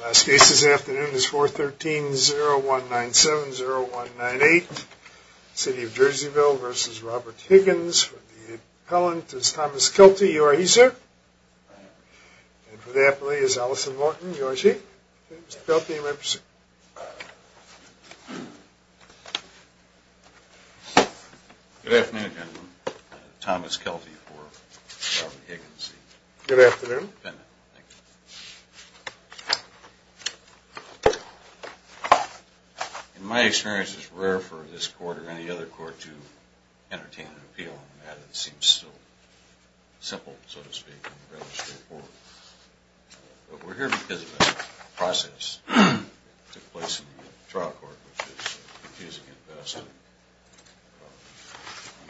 Last case this afternoon is 413-0197-0198. City of Jerseyville v. Robert Higgins. For the appellant is Thomas Kelty. You are he, sir? I am. And for the appellee is Allison Morton. You are she? James Kelty. You may proceed. Good afternoon, gentlemen. Thomas Kelty for Robert Higgins. Good afternoon. Thank you. In my experience, it's rare for this court or any other court to entertain an appeal. It seems so simple, so to speak, and rather straightforward. But we're here because of a process that took place in the trial court, which is confusing at best and in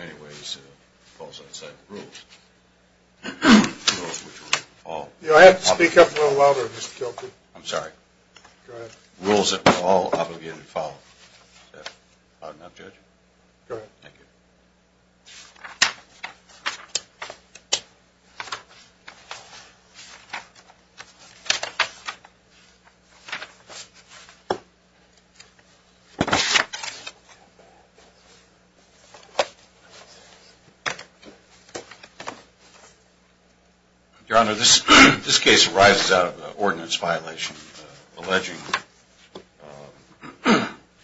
many ways falls outside the rules. I have to speak up a little louder, Mr. Kelty. I'm sorry. Go ahead. Rules that we're all obligated to follow. Is that loud enough, Judge? Go ahead. Thank you. Your Honor, this case arises out of an ordinance violation, alleging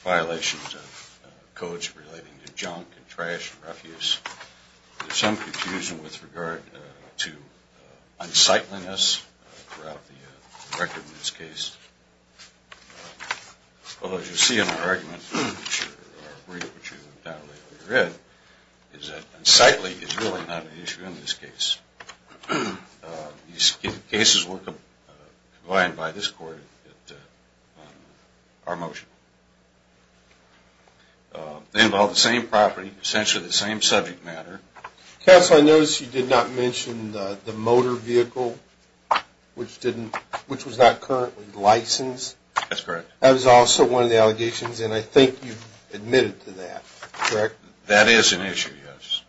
violations of codes relating to junk and trash and refuse. There's some confusion with regard to unsightliness throughout the record in this case. Although, as you'll see in our argument, which you've read, is that unsightliness is really not an issue in this case. These cases were combined by this court at our motion. They involve the same property, essentially the same subject matter. Counsel, I noticed you did not mention the motor vehicle, which was not currently licensed. That's correct. That was also one of the allegations, and I think you've admitted to that, correct? That is an issue, yes.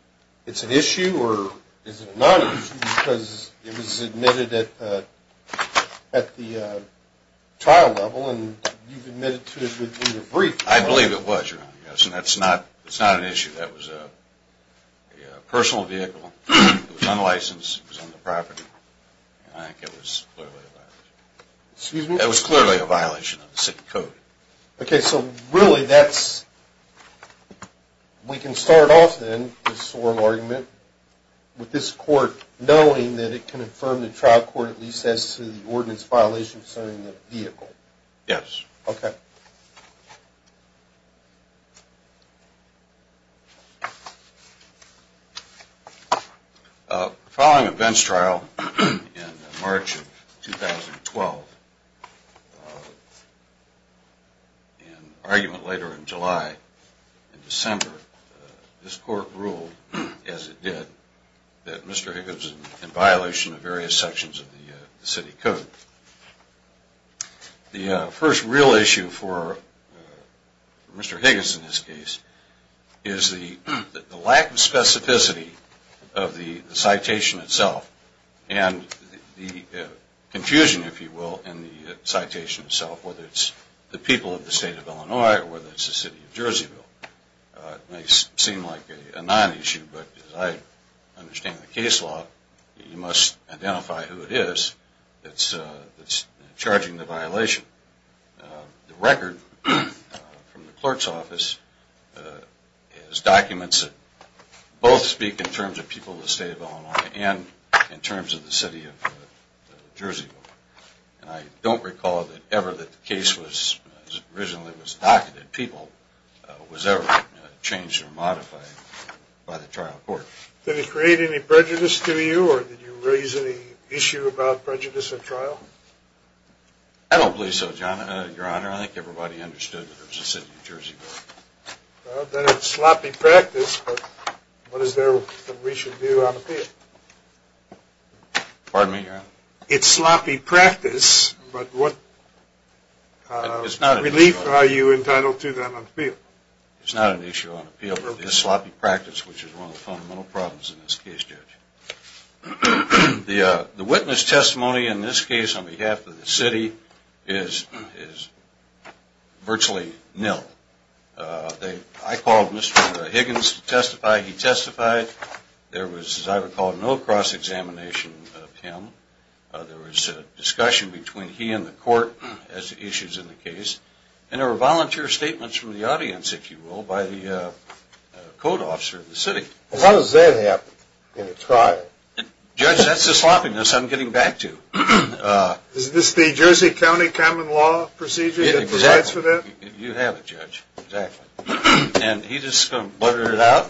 It's an issue or is it not an issue because it was admitted at the trial level and you've admitted to it in the brief. I believe it was, Your Honor, yes, and that's not an issue. That was a personal vehicle. It was unlicensed. Excuse me? Okay, so really that's, we can start off then, this oral argument, with this court knowing that it can affirm the trial court, at least as to the ordinance violation concerning the vehicle. Yes. Okay. Following a bench trial in March of 2012, an argument later in July and December, this court ruled, as it did, that Mr. Higgins is in violation of various sections of the city code. The first real issue for Mr. Higgins in this case is the lack of specificity of the citation itself and the confusion, if you will, in the citation itself, whether it's the people of the state of Illinois or whether it's the city of Jerseyville. It may seem like a non-issue, but as I understand the case law, you must identify who it is that's charging the violation. The record from the clerk's office is documents that both speak in terms of people of the state of Illinois and in terms of the city of Jerseyville. And I don't recall that ever that the case was, originally was docketed people, was ever changed or modified by the trial court. Did it create any prejudice to you or did you raise any issue about prejudice at trial? I don't believe so, Your Honor. I think everybody understood that there was a city of Jerseyville. Well, then it's sloppy practice, but what is there that we should do on appeal? Pardon me, Your Honor? It's sloppy practice, but what relief are you entitled to then on appeal? It's not an issue on appeal, but it's sloppy practice, which is one of the fundamental problems in this case, Judge. The witness testimony in this case on behalf of the city is virtually nil. I called Mr. Higgins to testify. He testified. There was, as I recall, no cross-examination of him. There was discussion between he and the court as to issues in the case, and there were volunteer statements from the audience, if you will, by the code officer of the city. How does that happen in a trial? Judge, that's the sloppiness I'm getting back to. Is this the Jersey County common law procedure that provides for that? Exactly. You have it, Judge. Exactly. And he just blurted it out,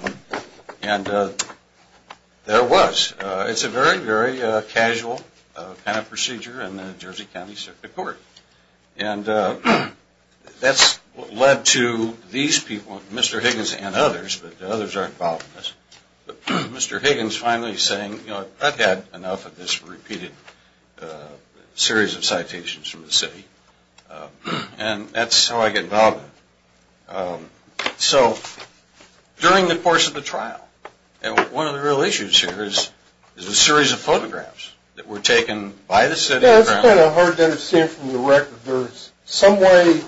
and there it was. It's a very, very casual kind of procedure, and the Jersey County Circuit Court. And that's what led to these people, Mr. Higgins and others, but the others aren't involved in this, but Mr. Higgins finally saying, you know, I've had enough of this repeated series of citations from the city, and that's how I get involved in it. So during the course of the trial, and one of the real issues here is the series of photographs that were taken by the city. Yeah, it's kind of hard to understand from the record. There's some way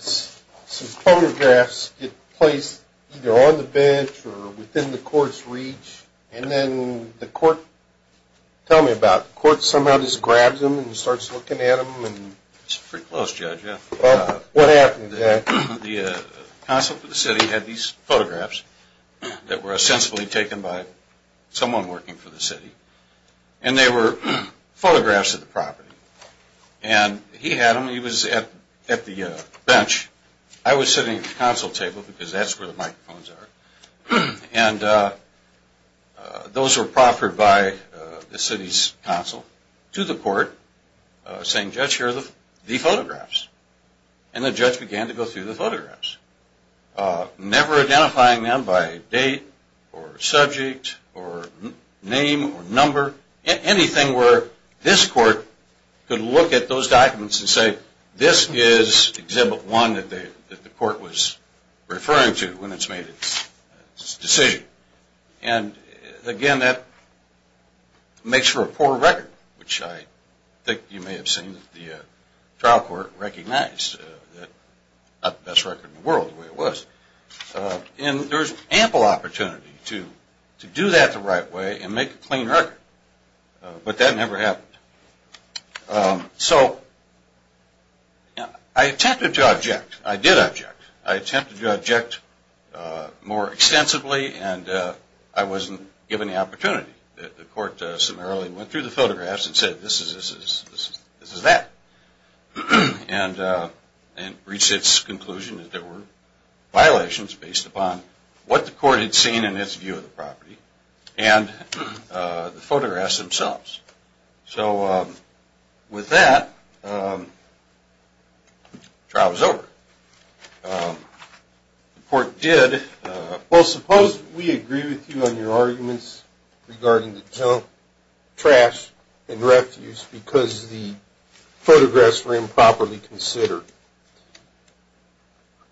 some photographs get placed either on the bench or within the court's reach, and then the court, tell me about it. The court somehow just grabs them and starts looking at them. It's pretty close, Judge. What happened to that? The council for the city had these photographs that were sensibly taken by someone working for the city, and they were photographs of the property, and he had them. He was at the bench. I was sitting at the council table because that's where the microphones are, and those were proffered by the city's council to the court saying, Judge, here are the photographs, never identifying them by date or subject or name or number, anything where this court could look at those documents and say, this is Exhibit 1 that the court was referring to when it's made its decision, and again, that makes for a poor record, which I think you may have seen the trial court recognize, not the best record in the world the way it was. And there was ample opportunity to do that the right way and make a clean record, but that never happened. So I attempted to object. I did object. I attempted to object more extensively, and I wasn't given the opportunity. The court summarily went through the photographs and said, this is that, and reached its conclusion that there were violations based upon what the court had seen in its view of the property and the photographs themselves. So with that, the trial was over. The court did. Well, suppose we agree with you on your arguments regarding the junk, trash, and refuse, because the photographs were improperly considered.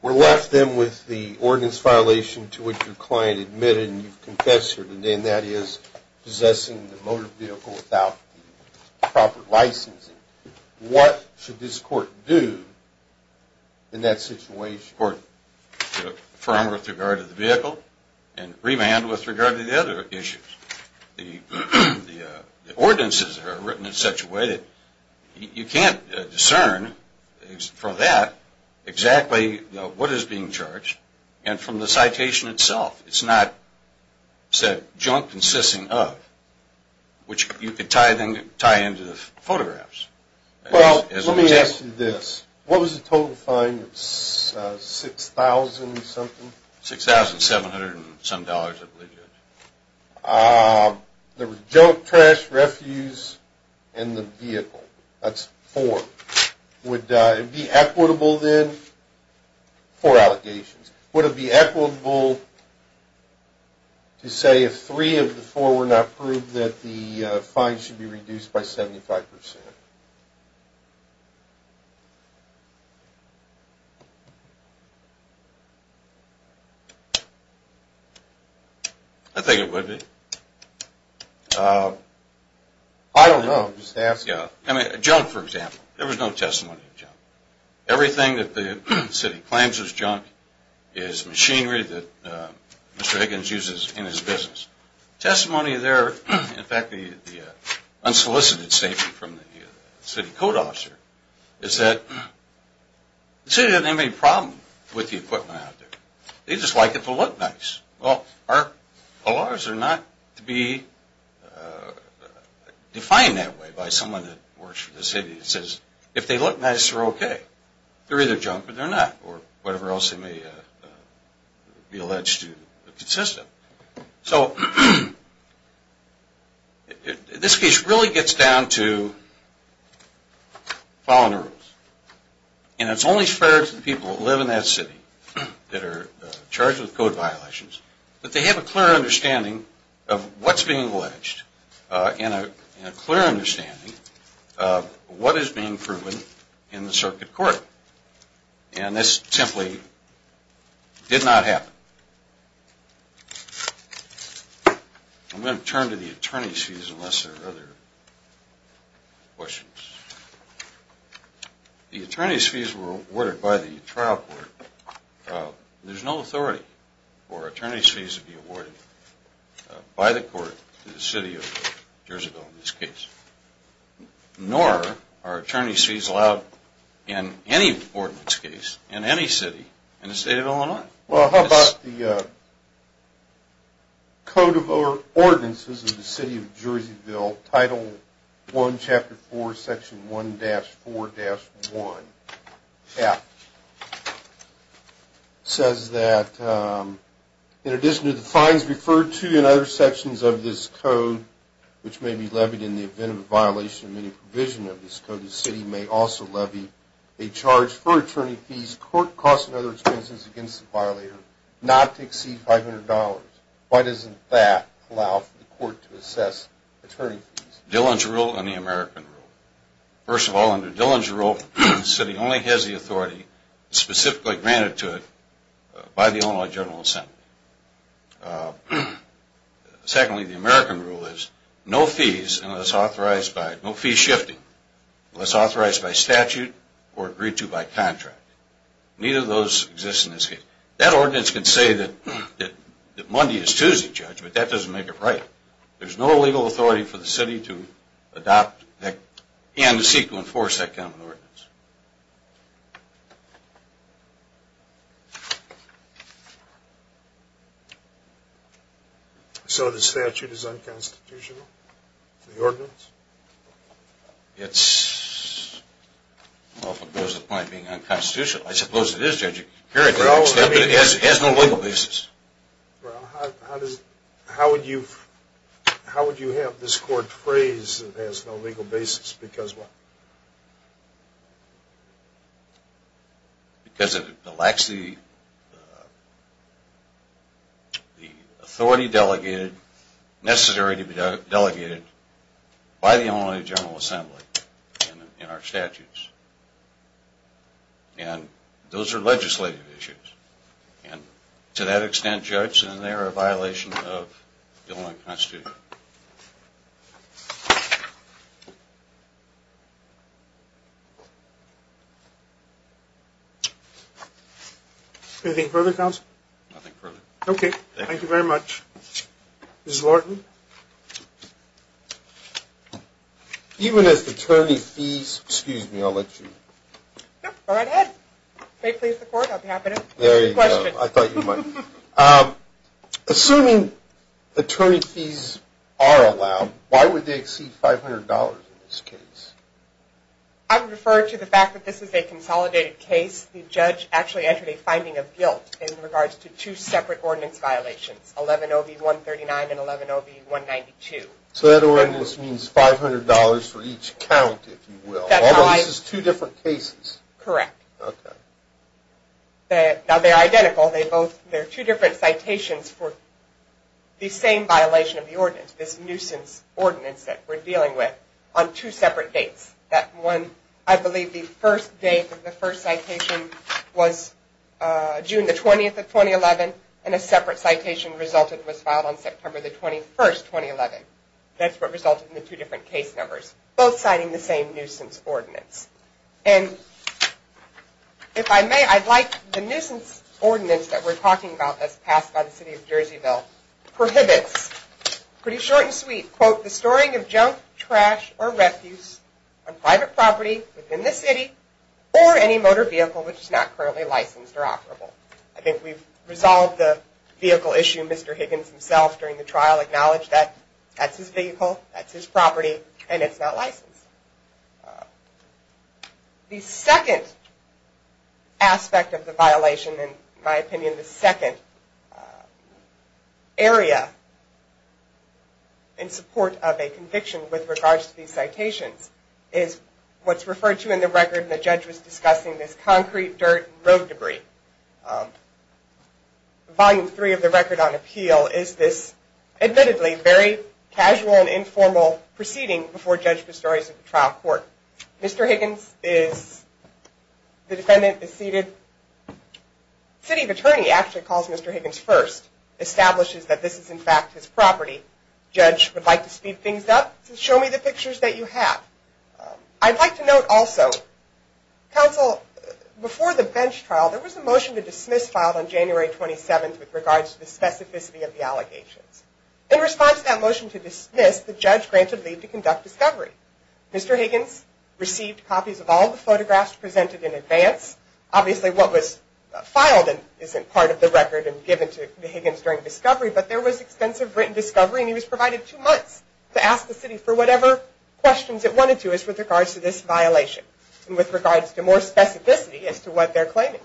We're left then with the ordinance violation to which your client admitted, and you've confessed to it, and that is possessing the motor vehicle without proper licensing. What should this court do in that situation? The court should affirm with regard to the vehicle and remand with regard to the other issues. The ordinances are written in such a way that you can't discern from that exactly what is being charged, and from the citation itself. It's not junk consisting of, which you could tie into the photographs. Well, let me ask you this. What was the total fine? It's $6,000-something? $6,700 and some dollars, I believe, Judge. There was junk, trash, refuse, and the vehicle. That's four. Would it be equitable then? Four allegations. Would it be equitable to say if three of the four were not proved that the fine should be reduced by 75%? I think it would be. I don't know. I'm just asking. Junk, for example. There was no testimony of junk. Everything that the city claims is junk is machinery that Mr. Higgins uses in his business. Testimony there, in fact, the unsolicited statement from the city code officer, is that the city doesn't have any problem with the equipment out there. They just like it to look nice. Well, our laws are not to be defined that way by someone that works for the city. It says if they look nice, they're okay. They're either junk or they're not, or whatever else they may be alleged to consist of. So this case really gets down to following the rules. And it's only fair to the people that live in that city that are charged with code violations that they have a clear understanding of what's being alleged and a clear understanding of what is being proven in the circuit court. And this simply did not happen. I'm going to turn to the attorney's fees unless there are other questions. The attorney's fees were awarded by the trial court. There's no authority for attorney's fees to be awarded by the court to the city of Jerseyville in this case. Nor are attorney's fees allowed in any ordinance case in any city in the state of Illinois. Well, how about the Code of Ordinances of the City of Jerseyville, Title I, Chapter 4, Section 1-4-1. It says that in addition to the fines referred to in other sections of this code, which may be levied in the event of a violation of any provision of this code, the city may also levy a charge for attorney's fees, court costs, and other expenses against the violator not to exceed $500. Why doesn't that allow for the court to assess attorney's fees? Dillon's Rule and the American Rule. First of all, under Dillon's Rule, the city only has the authority specifically granted to it by the Illinois General Assembly. Secondly, the American Rule is no fees, no fees shifting, unless authorized by statute or agreed to by contract. Neither of those exist in this case. That ordinance can say that Monday is Tuesday, Judge, but that doesn't make it right. There's no legal authority for the city to adopt and seek to enforce that kind of ordinance. So the statute is unconstitutional, the ordinance? Well, if it goes to the point of being unconstitutional, I suppose it is, Judge. It has no legal basis. Well, how would you have this court phrase, it has no legal basis, because what? Because it lacks the authority delegated, necessary to be delegated, by the Illinois General Assembly in our statutes. And those are legislative issues. And to that extent, Judge, they are a violation of the Illinois Constitution. Anything further, Counsel? Nothing further. Okay, thank you very much. Ms. Lorton? Even as attorney fees, excuse me, I'll let you. Go right ahead. If they please the court, I'll be happy to. There you go. I thought you might. Assuming attorney fees are allowed, why would they exceed $500 in this case? I would refer to the fact that this is a consolidated case. The judge actually entered a finding of guilt in regards to two separate ordinance violations, 11-OB-139 and 11-OB-192. So that ordinance means $500 for each count, if you will. Although this is two different cases. Correct. Okay. Now, they're identical. They're two different citations for the same violation of the ordinance, this nuisance ordinance that we're dealing with, on two separate dates. That one, I believe the first date of the first citation was June the 20th of 2011, and a separate citation was filed on September the 21st, 2011. That's what resulted in the two different case numbers, both citing the same nuisance ordinance. And if I may, I'd like the nuisance ordinance that we're talking about that's passed by the city of Jerseyville prohibits, pretty short and sweet, quote, the storing of junk, trash, or refuse on private property within the city or any motor vehicle which is not currently licensed or operable. I think we've resolved the vehicle issue. Mr. Higgins himself, during the trial, acknowledged that that's his vehicle, that's his property, and it's not licensed. The second aspect of the violation, and in my opinion the second area in support of a conviction with regards to these citations, is what's referred to in the record when the judge was discussing this concrete, dirt, and road debris. Volume three of the record on appeal is this, admittedly, very casual and informal proceeding before Judge Pistorius at the trial court. Mr. Higgins, the defendant, is seated. The city attorney actually calls Mr. Higgins first, establishes that this is, in fact, his property. The judge would like to speed things up to show me the pictures that you have. I'd like to note also, counsel, before the bench trial, there was a motion to dismiss filed on January 27th with regards to the specificity of the allegations. In response to that motion to dismiss, the judge granted leave to conduct discovery. Mr. Higgins received copies of all the photographs presented in advance. Obviously, what was filed isn't part of the record and given to Higgins during discovery, but there was extensive written discovery, and he was provided two months to ask the city for whatever questions it wanted to with regards to this violation, and with regards to more specificity as to what they're claiming.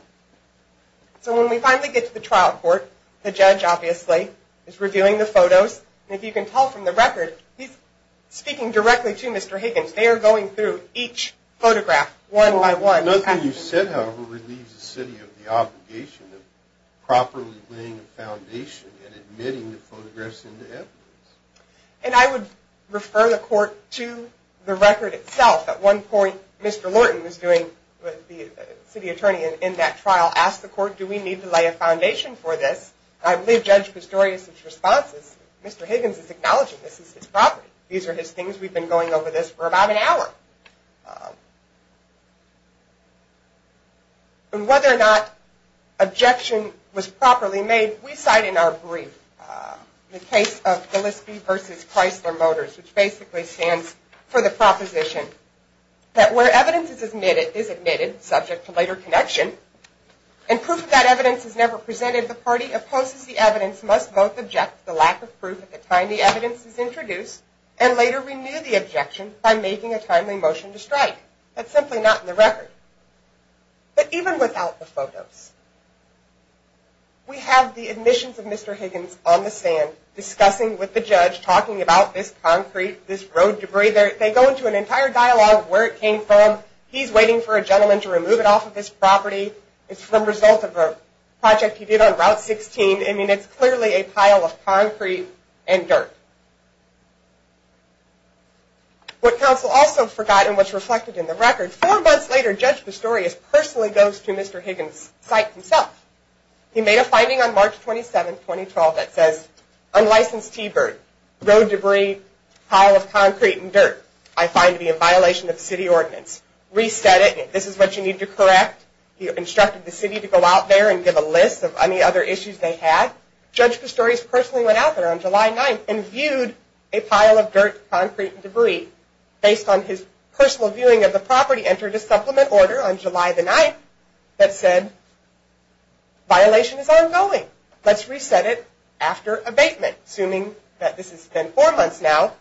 When we finally get to the trial court, the judge, obviously, is reviewing the photos. If you can tell from the record, he's speaking directly to Mr. Higgins. They are going through each photograph one by one. Nothing you said, however, relieves the city of the obligation of properly laying a foundation and admitting the photographs into evidence. And I would refer the court to the record itself. At one point, Mr. Lorton, the city attorney in that trial, asked the court, do we need to lay a foundation for this? I believe Judge Pistorius' response is Mr. Higgins is acknowledging this is his property. These are his things. We've been going over this for about an hour. And whether or not objection was properly made, we cite in our brief the case of Gillespie v. Chrysler Motors, which basically stands for the proposition that where evidence is admitted, subject to later connection, and proof of that evidence is never presented, the party opposes the evidence, must both object to the lack of proof at the time the evidence is introduced, and later renew the objection by making a timely motion to strike. That's simply not in the record. But even without the photos, we have the admissions of Mr. Higgins on the stand, discussing with the judge, talking about this concrete, this road debris. They go into an entire dialogue of where it came from. He's waiting for a gentleman to remove it off of his property. It's the result of a project he did on Route 16. I mean, it's clearly a pile of concrete and dirt. What counsel also forgot, and what's reflected in the record, four months later, Judge Pistorius personally goes to Mr. Higgins' site himself. He made a finding on March 27, 2012, that says, unlicensed T-Bird, road debris, pile of concrete and dirt, I find to be in violation of city ordinance. Reset it, and if this is what you need to correct, he instructed the city to go out there and give a list of any other issues they had. Judge Pistorius personally went out there on July 9, and viewed a pile of dirt, concrete, and debris, based on his personal viewing of the property, entered a supplement order on July 9, that said, violation is ongoing. Let's reset it after abatement. Assuming that this has been four months now,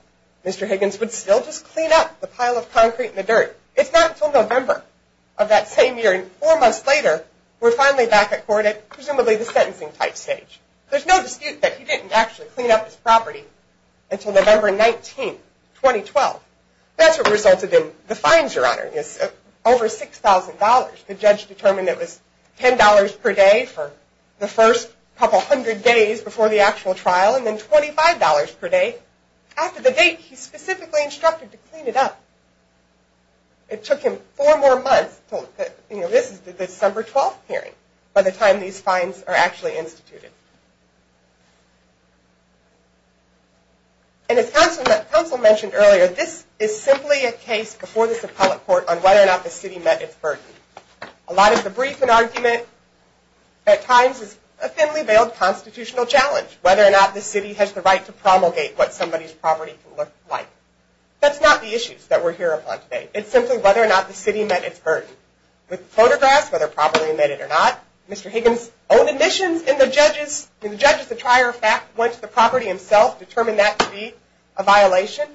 Mr. Higgins would still just clean up the pile of concrete and the dirt. It's not until November of that same year, and four months later, we're finally back at court at presumably the sentencing type stage. There's no dispute that he didn't actually clean up his property until November 19, 2012. That's what resulted in the fines, Your Honor, is over $6,000. The judge determined it was $10 per day for the first couple hundred days before the actual trial, and then $25 per day after the date he specifically instructed to clean it up. It took him four more months until, you know, this is the December 12 hearing, by the time these fines are actually instituted. And as counsel mentioned earlier, this is simply a case before this appellate court on whether or not the city met its burden. A lot of the brief and argument at times is a thinly veiled constitutional challenge, whether or not the city has the right to promulgate what somebody's property can look like. That's not the issues that we're here upon today. It's simply whether or not the city met its burden. With photographs, whether properly made it or not, Mr. Higgins' own admissions and the judge's, and the judge's prior fact went to the property himself, determined that to be a violation,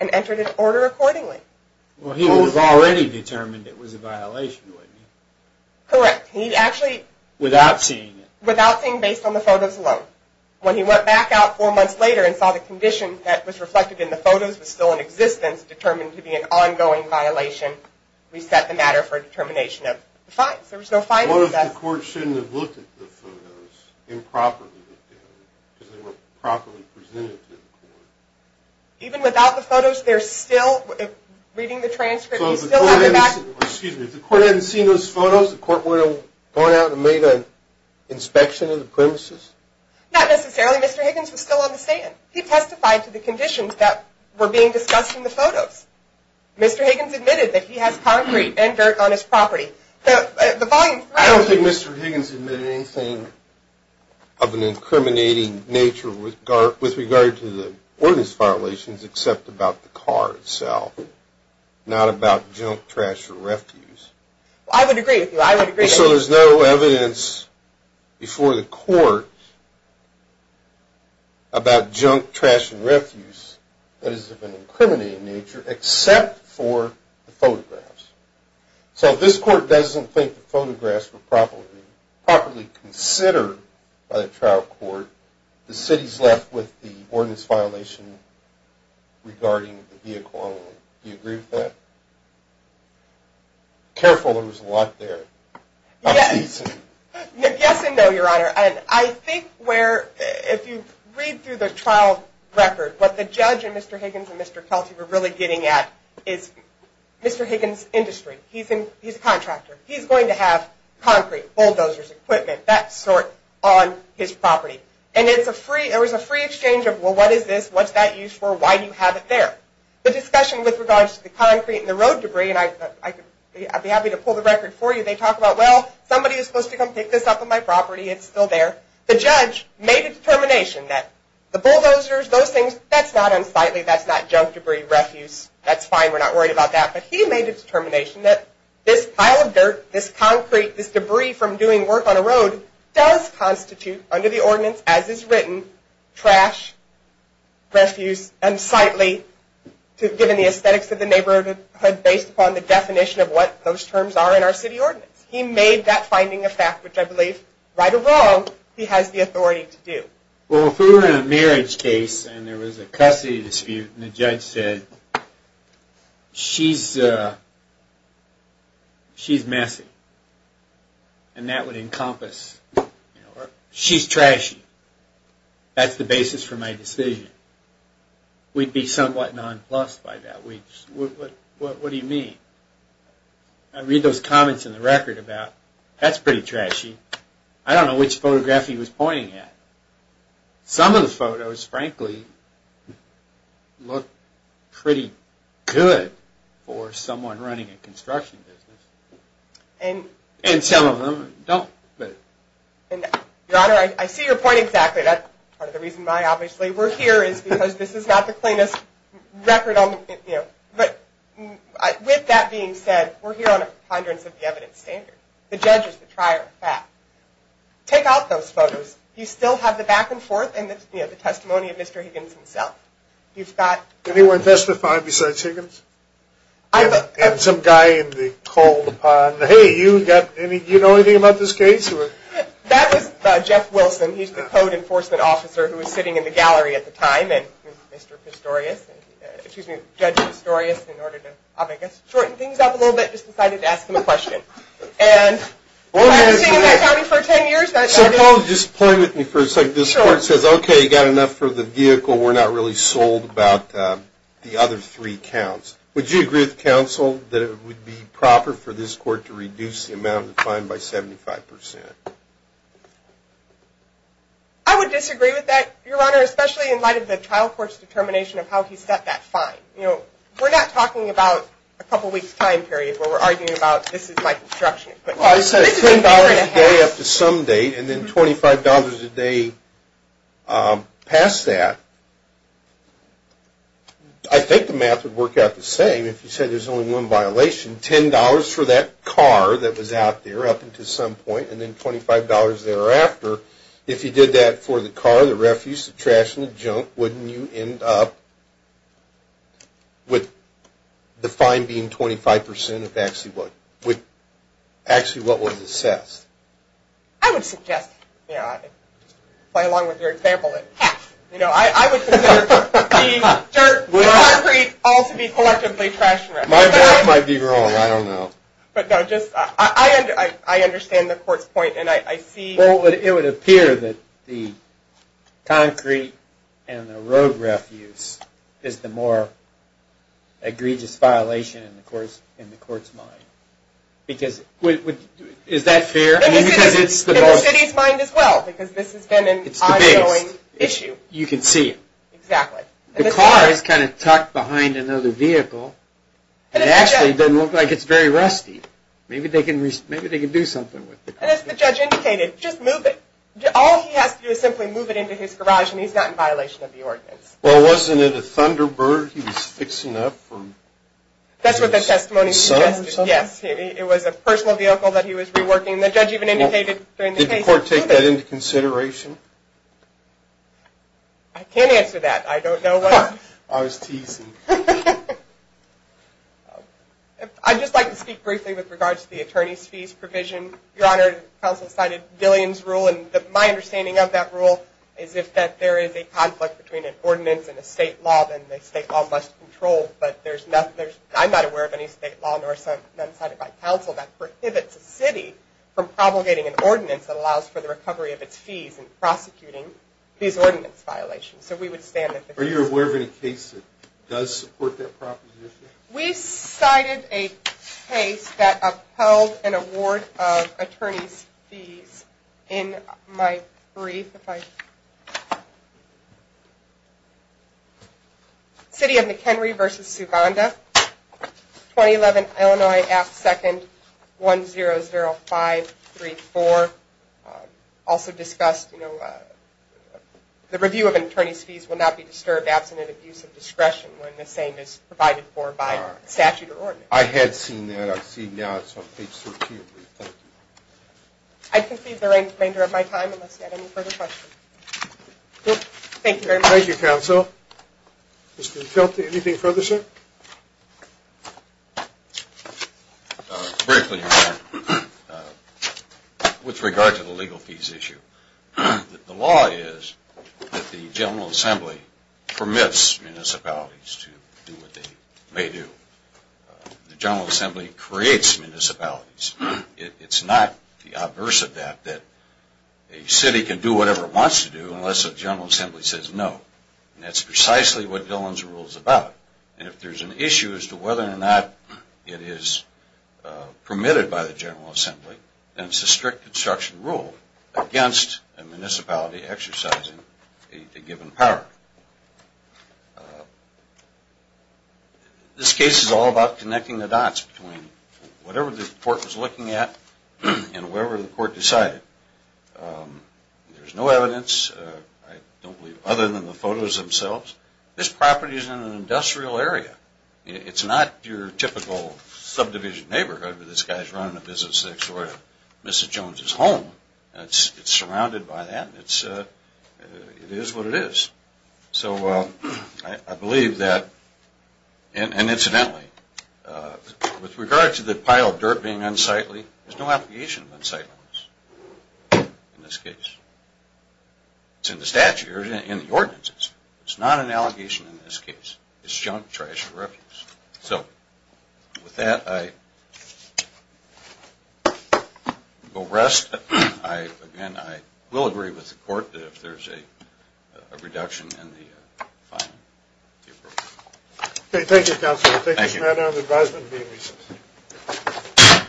and entered an order accordingly. Well, he was already determined it was a violation, wasn't he? Correct. He actually... Without seeing it. Without seeing, based on the photos alone. When he went back out four months later and saw the condition that was reflected in the photos was still in existence, determined to be an ongoing violation, we set the matter for a determination of the fines. There was no fines assessed. What if the court shouldn't have looked at the photos improperly, because they weren't properly presented to the court? Even without the photos, they're still... Reading the transcript, you still have the back... Excuse me. If the court hadn't seen those photos, the court wouldn't have gone out and made an inspection of the premises? Mr. Higgins was still on the stand. He testified to the conditions that were being discussed in the photos. Mr. Higgins admitted that he has concrete and dirt on his property. The volume... I don't think Mr. Higgins admitted anything of an incriminating nature with regard to the ordinance violations except about the car itself, not about junk, trash, or refuse. I would agree with you. So there's no evidence before the court about junk, trash, and refuse that is of an incriminating nature except for the photographs. So if this court doesn't think the photographs were properly considered by the trial court, the city's left with the ordinance violation regarding the vehicle only. Do you agree with that? Careful, there was a lot there. Yes and no, Your Honor. And I think where, if you read through the trial record, what the judge and Mr. Higgins and Mr. Kelty were really getting at is Mr. Higgins' industry. He's a contractor. He's going to have concrete, bulldozers, equipment, that sort on his property. And there was a free exchange of, well, what is this? What's that used for? Why do you have it there? The discussion with regards to the concrete and the road debris, and I'd be happy to pull the record for you. They talk about, well, somebody is supposed to come pick this up on my property. It's still there. The judge made a determination that the bulldozers, those things, that's not unsightly. That's not junk, debris, refuse. That's fine. We're not worried about that. But he made a determination that this pile of dirt, this concrete, this debris from doing work on a road does constitute under the ordinance as is written, trash, refuse, unsightly, given the aesthetics of the neighborhood, based upon the definition of what those terms are in our city ordinance. He made that finding a fact, which I believe, right or wrong, he has the authority to do. Well, if we were in a marriage case and there was a custody dispute and the judge said, she's messy, and that would encompass, she's trashy. That's the basis for my decision. We'd be somewhat nonplussed by that. What do you mean? I read those comments in the record about, that's pretty trashy. I don't know which photograph he was pointing at. Some of the photos, frankly, look pretty good for someone running a construction business. And some of them don't. Your Honor, I see your point exactly. That's part of the reason why, obviously, we're here, is because this is not the cleanest record. But with that being said, we're here on a ponderance of the evidence standard. The judge is the trier of fact. Take out those photos. You still have the back and forth and the testimony of Mr. Higgins himself. Anyone testified besides Higgins? And some guy in the cold. Hey, do you know anything about this case? That was Jeff Wilson. He's the code enforcement officer who was sitting in the gallery at the time. And Mr. Pistorius, excuse me, Judge Pistorius, in order to, I guess, shorten things up a little bit, just decided to ask him a question. So, Paul, just play with me for a second. This court says, okay, you've got enough for the vehicle. We're not really sold about the other three counts. Would you agree with counsel that it would be proper for this court to reduce the amount of the fine by 75 percent? I would disagree with that, Your Honor, especially in light of the trial court's determination of how he set that fine. We're not talking about a couple weeks' time period where we're arguing about this is my construction equipment. Well, it says $10 a day up to some date, and then $25 a day past that. I think the math would work out the same if you said there's only one violation, $10 for that car that was out there up until some point, and then $25 thereafter. If you did that for the car, the refuse, the trash, and the junk, wouldn't you end up with the fine being 25 percent of actually what was assessed? I would suggest, you know, I would play along with your example and half. You know, I would consider the concrete all to be collectively trash and rubbish. My math might be wrong. I don't know. But, no, just I understand the court's point, and I see. Well, it would appear that the concrete and the road refuse is the more egregious violation in the court's mind. Is that fair? In the city's mind as well, because this has been an ongoing issue. You can see it. Exactly. The car is kind of tucked behind another vehicle. It actually doesn't look like it's very rusty. Maybe they can do something with it. As the judge indicated, just move it. All he has to do is simply move it into his garage, and he's not in violation of the ordinance. Well, wasn't it a Thunderbird he was fixing up? That's what the testimony suggested, yes. It was a personal vehicle that he was reworking. The judge even indicated during the case. Did the court take that into consideration? I can't answer that. I don't know. I was teasing. I'd just like to speak briefly with regards to the attorney's fees provision. Your Honor, the counsel cited Dillian's rule, and my understanding of that rule is if there is a conflict between an ordinance and a state law, then the state law is less controlled. But I'm not aware of any state law, nor is none cited by counsel that prohibits a city from propagating an ordinance that allows for the recovery of its fees in prosecuting these ordinance violations. So we would stand with the case. Are you aware of any case that does support that proposition? We cited a case that upheld an award of attorney's fees in my brief. City of McHenry v. Subonda, 2011, Illinois, Act II, 100534, also discussed the review of an attorney's fees will not be disturbed absent an abuse of discretion when the same is provided for by statute or ordinance. I had seen that. I see now it's on page 13. Thank you. I concede there ain't a remainder of my time unless you have any further questions. Thank you very much. Thank you, counsel. Mr. Utilty, anything further, sir? Very quickly, Your Honor. With regard to the legal fees issue, the law is that the General Assembly permits municipalities to do what they may do. The General Assembly creates municipalities. It's not the adverse of that that a city can do whatever it wants to do unless the General Assembly says no. And that's precisely what Dillon's rule is about. And if there's an issue as to whether or not it is permitted by the General Assembly, then it's a strict construction rule against a municipality exercising a given power. This case is all about connecting the dots between whatever the court was looking at and wherever the court decided. There's no evidence, I don't believe, other than the photos themselves. This property is in an industrial area. It's not your typical subdivision neighborhood where this guy's running a business that's sort of Mrs. Jones's home. It's surrounded by that, and it is what it is. So I believe that, and incidentally, with regard to the pile of dirt being unsightly, there's no application of unsightliness in this case. It's in the statute or in the ordinances. It's not an allegation in this case. It's junk, trash, or refuse. So with that, I will rest. Again, I will agree with the court if there's a reduction in the fine. Okay, thank you, Counselor. Thank you. This matter of advisement being recessed.